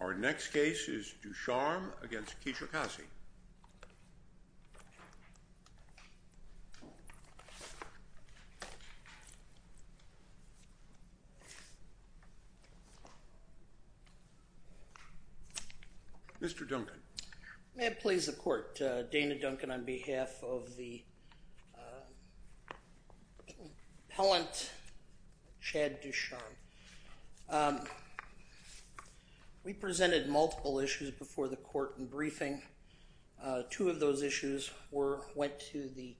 Our next case is DuCharme v. Kilolo Kijakazi. May it please the court, Dana Duncan on behalf of the appellant Chad DuCharme. We presented multiple issues before the court in briefing. Two of those issues went to the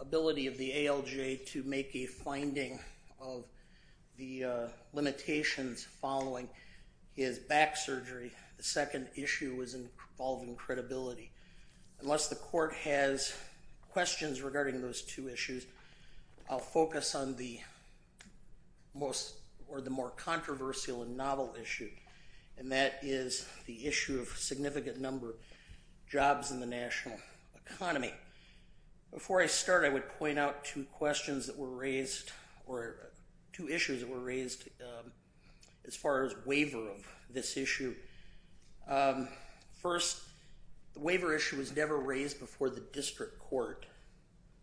ability of the ALJ to make a finding of the limitations following his back surgery. The second issue was involving credibility. Unless the court has questions regarding those two issues, I'll focus on the more controversial and novel issue, and that is the issue of significant number of jobs in the national economy. Before I start, I would point out two issues that were raised as far as waiver of this issue. First, the waiver issue was never raised before the district court,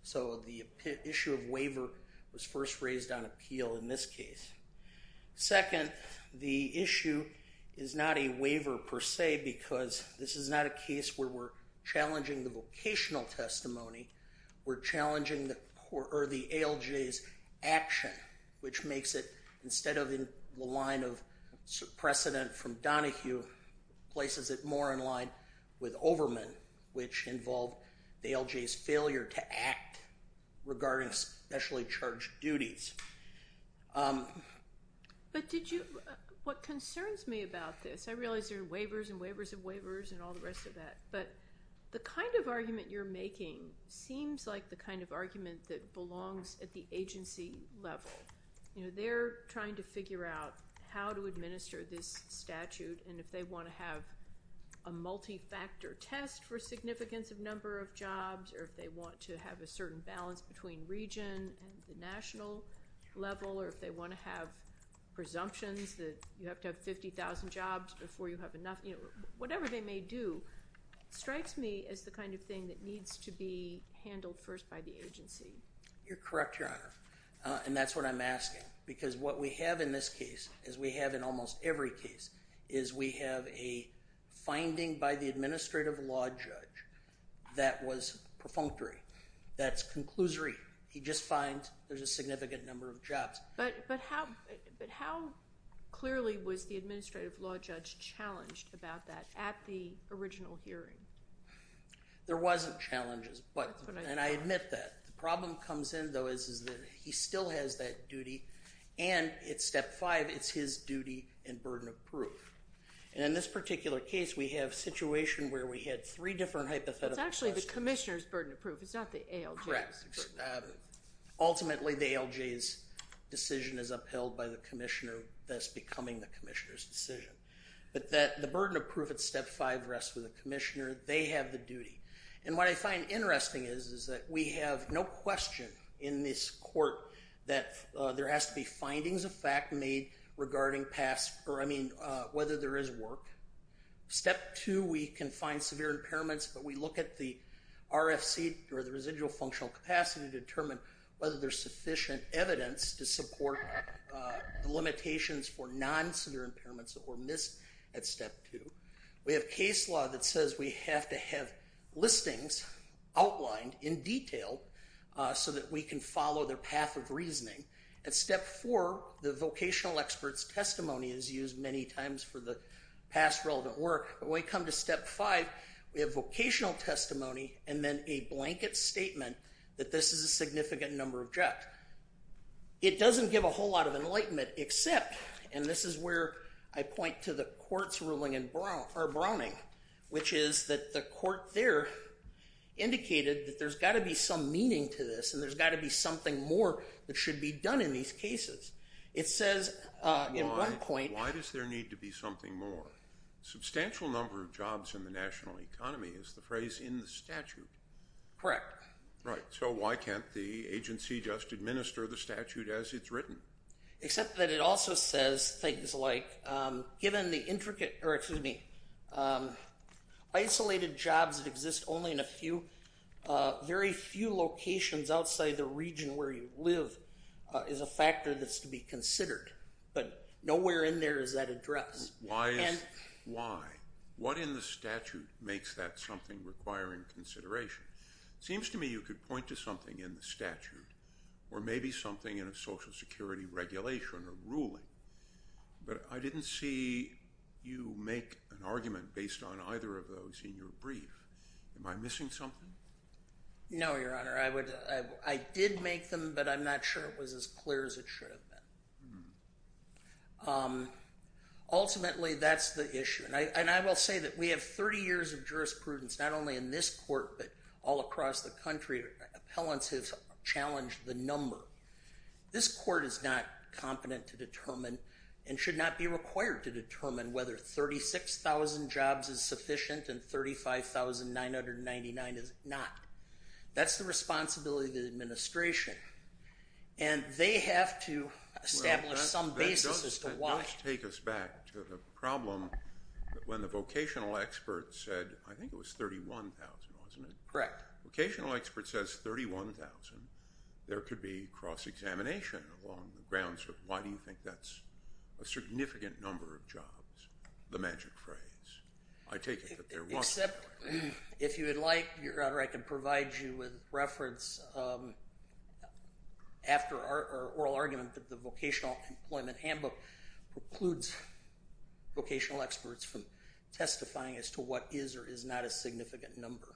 so the issue of waiver was first raised on appeal in this case. Second, the issue is not a waiver per se because this is not a case where we're challenging the vocational testimony. We're challenging the ALJ's action, which makes it, instead of in the line of precedent from Donahue, places it more in line with Overman, which involved the ALJ's failure to act regarding specially charged duties. But what concerns me about this, I realize there are waivers and waivers and waivers and all the rest of that, but the kind of argument you're making seems like the kind of argument that belongs at the agency level. They're trying to figure out how to administer this statute, and if they want to have a multi-factor test for significance of number of jobs or if they want to have a certain balance between region and the national level or if they want to have presumptions that you have to have 50,000 jobs before you have enough. Whatever they may do strikes me as the kind of thing that needs to be handled first by the agency. You're correct, Your Honor, and that's what I'm asking because what we have in this case, as we have in almost every case, is we have a finding by the administrative law judge that was perfunctory, that's conclusory. He just finds there's a significant number of jobs. But how clearly was the administrative law judge challenged about that at the original hearing? There wasn't challenges, and I admit that. The problem comes in, though, is that he still has that duty, and at Step 5, it's his duty and burden of proof. And in this particular case, we have a situation where we had three different hypothetical questions. It's actually the commissioner's burden of proof. It's not the ALJ's. Correct. Ultimately, the ALJ's decision is upheld by the commissioner, thus becoming the commissioner's decision. But the burden of proof at Step 5 rests with the commissioner. They have the duty. And what I find interesting is that we have no question in this court that there has to be findings of fact made regarding whether there is work. Step 2, we can find severe impairments, but we look at the RFC, or the residual functional capacity, to determine whether there's sufficient evidence to support the limitations for non-severe impairments that were missed at Step 2. We have case law that says we have to have listings outlined in detail so that we can follow their path of reasoning. At Step 4, the vocational expert's testimony is used many times for the past relevant work. When we come to Step 5, we have vocational testimony and then a blanket statement that this is a significant number of jobs. Correct. It doesn't give a whole lot of enlightenment except, and this is where I point to the court's ruling in Browning, which is that the court there indicated that there's got to be some meaning to this and there's got to be something more that should be done in these cases. It says in one point- Why does there need to be something more? Substantial number of jobs in the national economy is the phrase in the statute. Correct. Right, so why can't the agency just administer the statute as it's written? Except that it also says things like, given the intricate, or excuse me, isolated jobs that exist only in a few, very few locations outside the region where you live is a factor that's to be considered, but nowhere in there is that addressed. Why is, why? What in the statute makes that something requiring consideration? It seems to me you could point to something in the statute or maybe something in a Social Security regulation or ruling, but I didn't see you make an argument based on either of those in your brief. Am I missing something? No, Your Honor. I did make them, but I'm not sure it was as clear as it should have been. Ultimately, that's the issue. And I will say that we have 30 years of jurisprudence, not only in this court, but all across the country. Appellants have challenged the number. This court is not competent to determine and should not be required to determine whether 36,000 jobs is sufficient and 35,999 is not. That's the responsibility of the administration, and they have to establish some basis as to why. Let's take us back to the problem when the vocational expert said, I think it was 31,000, wasn't it? Correct. Vocational expert says 31,000. There could be cross-examination along the grounds of why do you think that's a significant number of jobs, the magic phrase. I take it that there wasn't. If you would like, Your Honor, I can provide you with reference after our oral argument that the Vocational Employment Handbook precludes vocational experts from testifying as to what is or is not a significant number.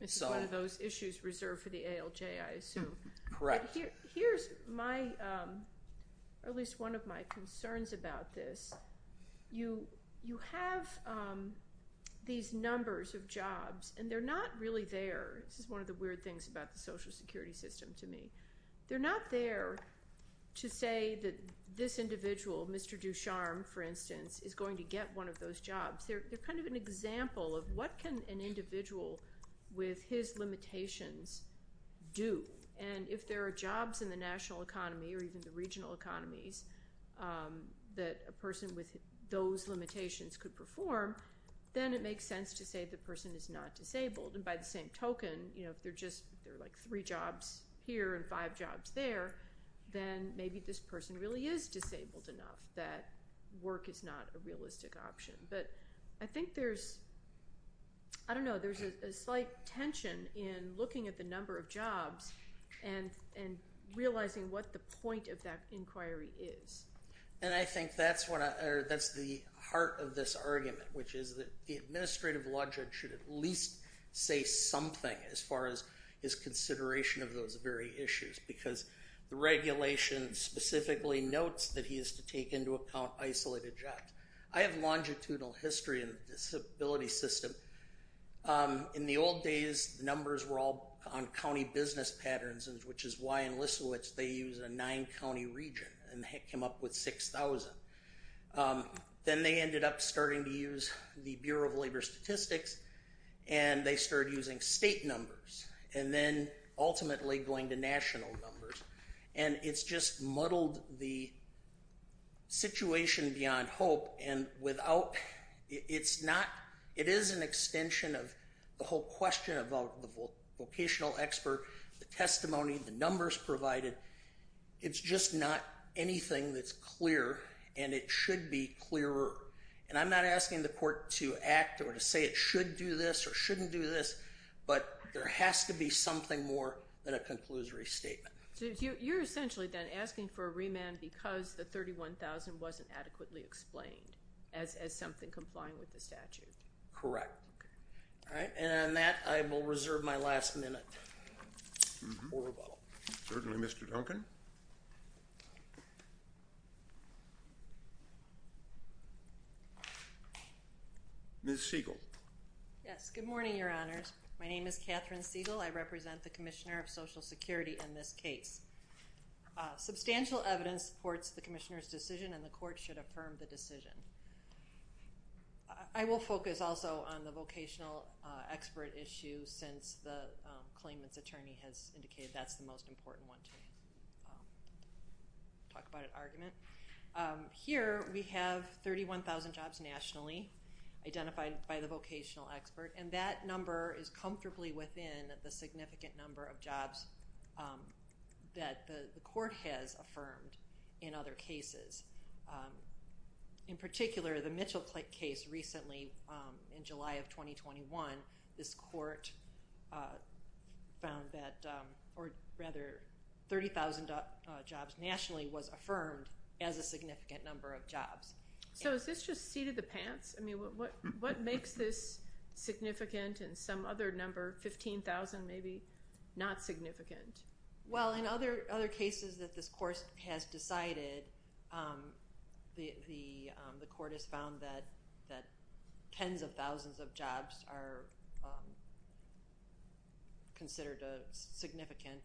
It's one of those issues reserved for the ALJ, I assume. Correct. Here's my – or at least one of my concerns about this. You have these numbers of jobs, and they're not really there. This is one of the weird things about the Social Security system to me. They're not there to say that this individual, Mr. Ducharme, for instance, is going to get one of those jobs. They're kind of an example of what can an individual with his limitations do. And if there are jobs in the national economy or even the regional economies that a person with those limitations could perform, then it makes sense to say the person is not disabled. And by the same token, if there are just three jobs here and five jobs there, then maybe this person really is disabled enough that work is not a realistic option. But I think there's – I don't know. There's a slight tension in looking at the number of jobs and realizing what the point of that inquiry is. And I think that's the heart of this argument, which is that the administrative law judge should at least say something as far as his consideration of those very issues because the regulation specifically notes that he is to take into account isolated jobs. I have longitudinal history in the disability system. In the old days, the numbers were all on county business patterns, which is why in Lisowitz they use a nine-county region, and they came up with 6,000. Then they ended up starting to use the Bureau of Labor Statistics, and they started using state numbers, and then ultimately going to national numbers. And it's just muddled the situation beyond hope. And without – it's not – it is an extension of the whole question about the vocational expert, the testimony, the numbers provided. It's just not anything that's clear, and it should be clearer. And I'm not asking the court to act or to say it should do this or shouldn't do this, but there has to be something more than a conclusory statement. So you're essentially then asking for a remand because the 31,000 wasn't adequately explained as something complying with the statute. Correct. All right, and on that, I will reserve my last minute for rebuttal. Certainly, Mr. Duncan. Ms. Siegel. Yes, good morning, Your Honors. My name is Catherine Siegel. I represent the Commissioner of Social Security in this case. Substantial evidence supports the Commissioner's decision, and the court should affirm the decision. I will focus also on the vocational expert issue since the claimant's attorney has indicated that's the most important one to talk about an argument. Here we have 31,000 jobs nationally identified by the vocational expert, and that number is comfortably within the significant number of jobs that the court has affirmed in other cases. In particular, the Mitchell case recently in July of 2021, this court found that, or rather, 30,000 jobs nationally was affirmed as a significant number of jobs. So is this just seat of the pants? I mean, what makes this significant and some other number, 15,000 maybe, not significant? Well, in other cases that this court has decided, the court has found that tens of thousands of jobs are considered significant.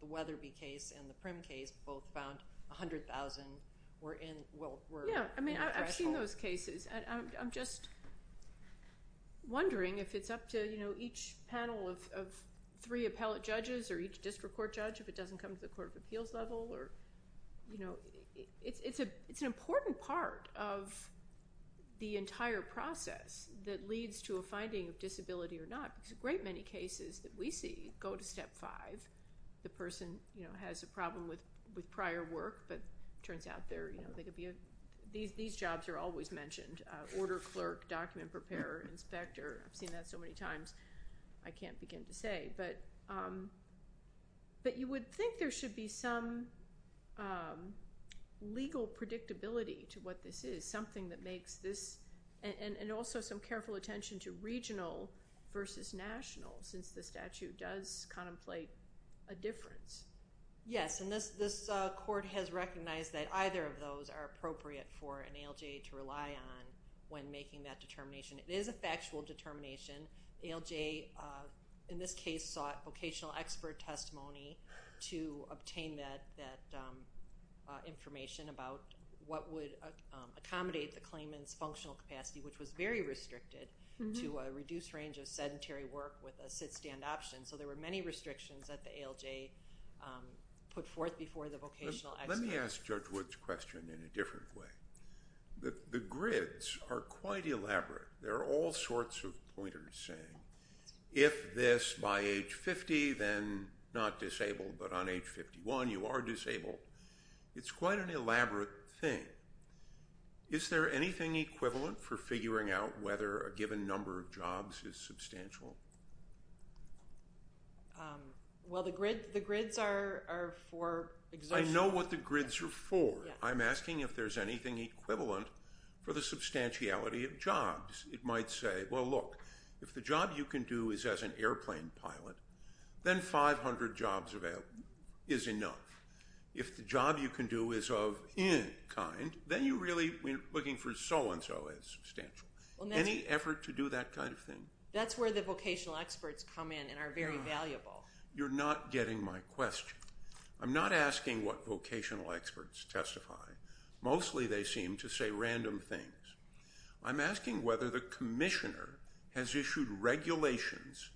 The Weatherby case and the Prim case both found 100,000 were in the threshold. I've seen those cases, and I'm just wondering if it's up to each panel of three appellate judges or each district court judge if it doesn't come to the court of appeals level. It's an important part of the entire process that leads to a finding of disability or not, because a great many cases that we see go to Step 5. The person has a problem with prior work, but it turns out these jobs are always mentioned, order clerk, document preparer, inspector. I've seen that so many times I can't begin to say, but you would think there should be some legal predictability to what this is, and also some careful attention to regional versus national, since the statute does contemplate a difference. Yes, and this court has recognized that either of those are appropriate for an ALJ to rely on when making that determination. It is a factual determination. ALJ, in this case, sought vocational expert testimony to obtain that information about what would accommodate the claimant's functional capacity, which was very restricted to a reduced range of sedentary work with a sit-stand option. So there were many restrictions that the ALJ put forth before the vocational expert. Let me ask Judge Wood's question in a different way. The grids are quite elaborate. There are all sorts of pointers saying, if this by age 50, then not disabled, but on age 51 you are disabled. It's quite an elaborate thing. Is there anything equivalent for figuring out whether a given number of jobs is substantial? Well, the grids are for exertion. I know what the grids are for. I'm asking if there's anything equivalent for the substantiality of jobs. It might say, well, look, if the job you can do is as an airplane pilot, then 500 jobs is enough. If the job you can do is of any kind, then you really are looking for so-and-so as substantial. Any effort to do that kind of thing? That's where the vocational experts come in and are very valuable. You're not getting my question. I'm not asking what vocational experts testify. Mostly they seem to say random things. I'm asking whether the commissioner has issued regulations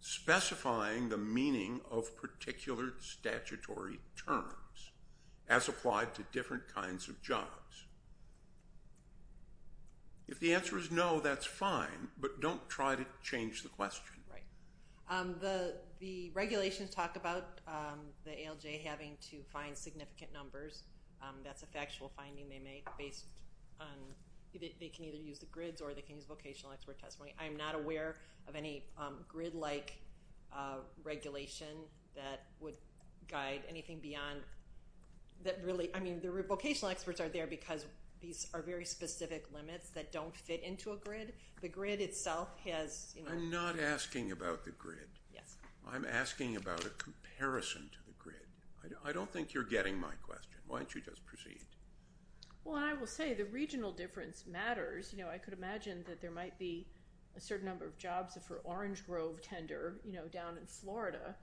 specifying the meaning of particular statutory terms as applied to different kinds of jobs. If the answer is no, that's fine, but don't try to change the question. Right. The regulations talk about the ALJ having to find significant numbers. That's a factual finding they made based on they can either use the grids or they can use vocational expert testimony. I am not aware of any grid-like regulation that would guide anything beyond that really. I mean, the vocational experts are there because these are very specific limits that don't fit into a grid. I'm not asking about the grid. I'm asking about a comparison to the grid. I don't think you're getting my question. Why don't you just proceed? Well, I will say the regional difference matters. I could imagine that there might be a certain number of jobs for orange grove tender down in Florida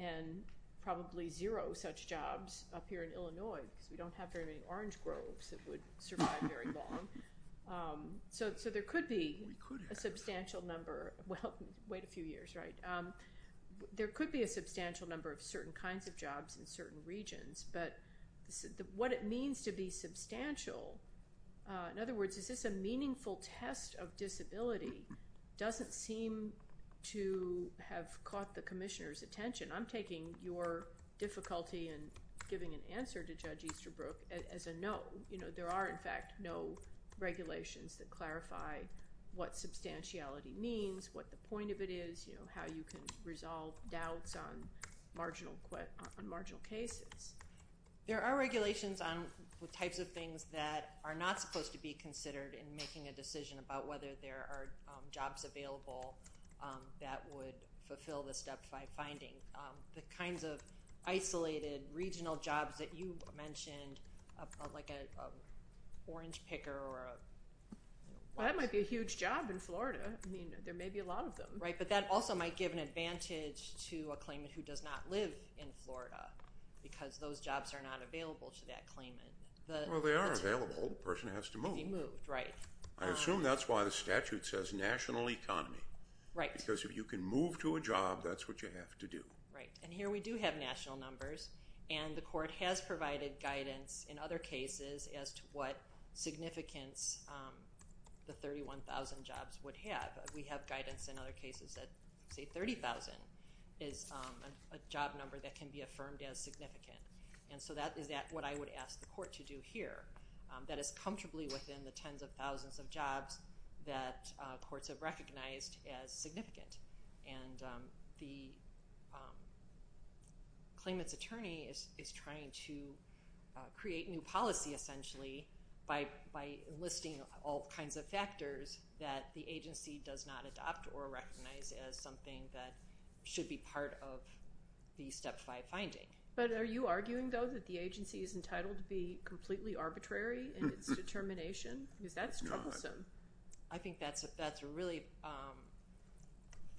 and probably zero such jobs up here in Illinois because we don't have very many orange groves that would survive very long. So there could be a substantial number. Well, wait a few years, right? There could be a substantial number of certain kinds of jobs in certain regions, but what it means to be substantial, in other words, is this a meaningful test of disability, doesn't seem to have caught the commissioner's attention. I'm taking your difficulty in giving an answer to Judge Easterbrook as a no. There are, in fact, no regulations that clarify what substantiality means, what the point of it is, how you can resolve doubts on marginal cases. There are regulations on the types of things that are not supposed to be considered in making a decision about whether there are jobs available that would fulfill the Step 5 finding. The kinds of isolated regional jobs that you mentioned, like an orange picker. Well, that might be a huge job in Florida. I mean, there may be a lot of them. Right, but that also might give an advantage to a claimant who does not live in Florida because those jobs are not available to that claimant. Well, they are available. The person has to move. Right. I assume that's why the statute says national economy. Right. Because if you can move to a job, that's what you have to do. Right, and here we do have national numbers, and the court has provided guidance in other cases as to what significance the 31,000 jobs would have. We have guidance in other cases that, say, 30,000 is a job number that can be affirmed as significant. And so that is what I would ask the court to do here. That is comfortably within the tens of thousands of jobs that courts have recognized as significant. And the claimant's attorney is trying to create new policy, essentially, by enlisting all kinds of factors that the agency does not adopt or recognize as something that should be part of the Step 5 finding. But are you arguing, though, that the agency is entitled to be completely arbitrary in its determination? Because that's troublesome. I think that's really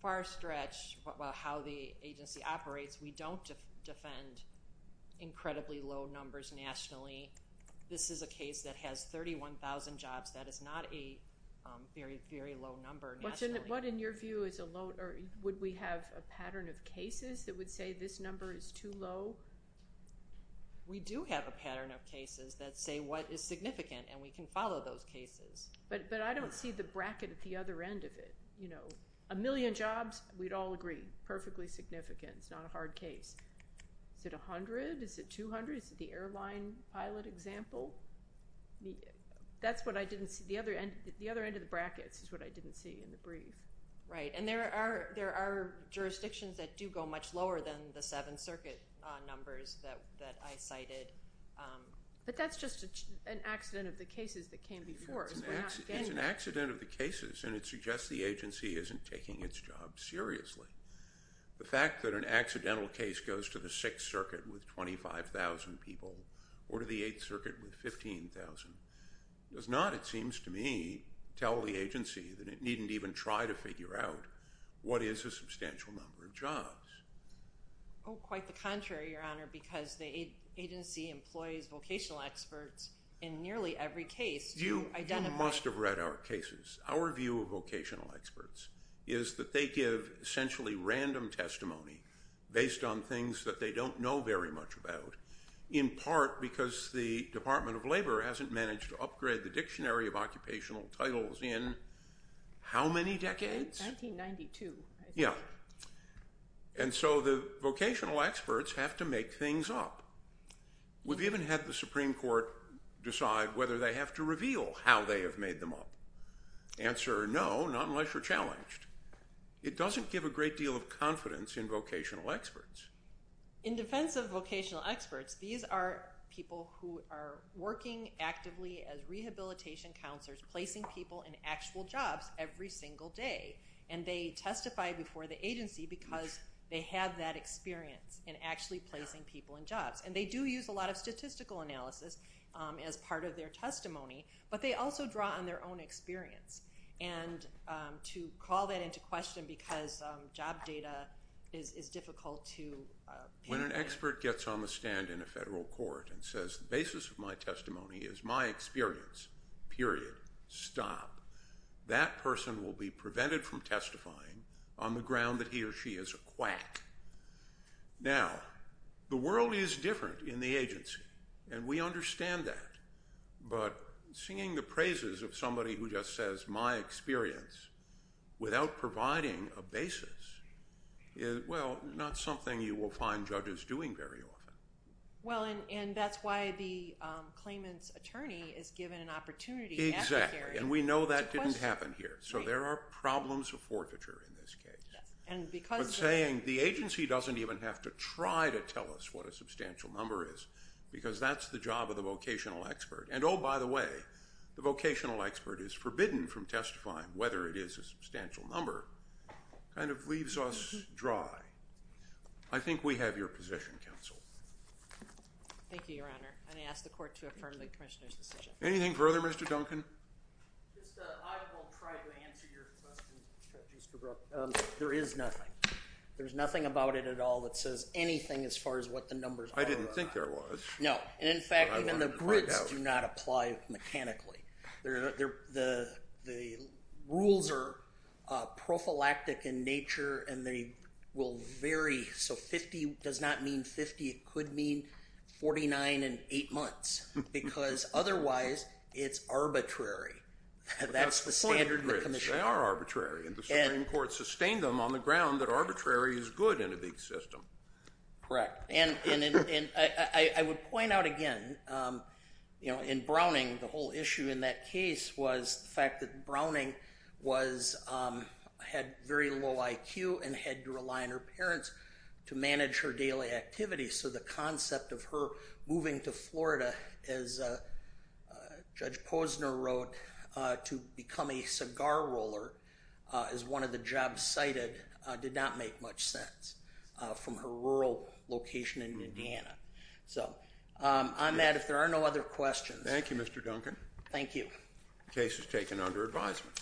far-stretched how the agency operates. We don't defend incredibly low numbers nationally. This is a case that has 31,000 jobs. That is not a very, very low number nationally. Would we have a pattern of cases that would say this number is too low? We do have a pattern of cases that say what is significant, and we can follow those cases. But I don't see the bracket at the other end of it. A million jobs, we'd all agree, perfectly significant. It's not a hard case. Is it 100? Is it 200? Is it the airline pilot example? That's what I didn't see. The other end of the brackets is what I didn't see in the brief. Right, and there are jurisdictions that do go much lower than the Seventh Circuit numbers that I cited. But that's just an accident of the cases that came before. It's an accident of the cases, and it suggests the agency isn't taking its job seriously. The fact that an accidental case goes to the Sixth Circuit with 25,000 people or to the Eighth Circuit with 15,000 does not, it seems to me, tell the agency that it needn't even try to figure out what is a substantial number of jobs. Oh, quite the contrary, Your Honor, because the agency employs vocational experts in nearly every case to identify— You must have read our cases. Our view of vocational experts is that they give essentially random testimony based on things that they don't know very much about, in part because the Department of Labor hasn't managed to upgrade the Dictionary of Occupational Titles in how many decades? 1992, I think. Yeah. And so the vocational experts have to make things up. We've even had the Supreme Court decide whether they have to reveal how they have made them up. Answer, no, not unless you're challenged. It doesn't give a great deal of confidence in vocational experts. In defense of vocational experts, these are people who are working actively as rehabilitation counselors, placing people in actual jobs every single day. And they testify before the agency because they have that experience in actually placing people in jobs. And they do use a lot of statistical analysis as part of their testimony, but they also draw on their own experience. And to call that into question because job data is difficult to— When an expert gets on the stand in a federal court and says, the basis of my testimony is my experience, period, stop, that person will be prevented from testifying on the ground that he or she is a quack. Now, the world is different in the agency, and we understand that. But singing the praises of somebody who just says, my experience, without providing a basis, is, well, not something you will find judges doing very often. Well, and that's why the claimant's attorney is given an opportunity at the hearing. Exactly, and we know that didn't happen here. So there are problems of forfeiture in this case. But saying the agency doesn't even have to try to tell us what a substantial number is because that's the job of the vocational expert. And, oh, by the way, the vocational expert is forbidden from testifying whether it is a substantial number kind of leaves us dry. I think we have your position, counsel. Thank you, Your Honor, and I ask the court to affirm the commissioner's decision. Anything further, Mr. Duncan? Just I will try to answer your question, Judge Easterbrook. There is nothing. There's nothing about it at all that says anything as far as what the numbers are. I didn't think there was. No, and, in fact, even the grids do not apply mechanically. The rules are prophylactic in nature, and they will vary. So 50 does not mean 50. It could mean 49 and 8 months because otherwise it's arbitrary. That's the standard of the commission. They are arbitrary, and the Supreme Court sustained them on the ground that arbitrary is good in a big system. Correct, and I would point out again, you know, in Browning, the whole issue in that case was the fact that Browning had very low IQ and had to rely on her parents to manage her daily activities. So the concept of her moving to Florida, as Judge Posner wrote, to become a cigar roller is one of the jobs cited did not make much sense from her rural location in Indiana. So on that, if there are no other questions. Thank you, Mr. Duncan. Thank you. The case is taken under advisement.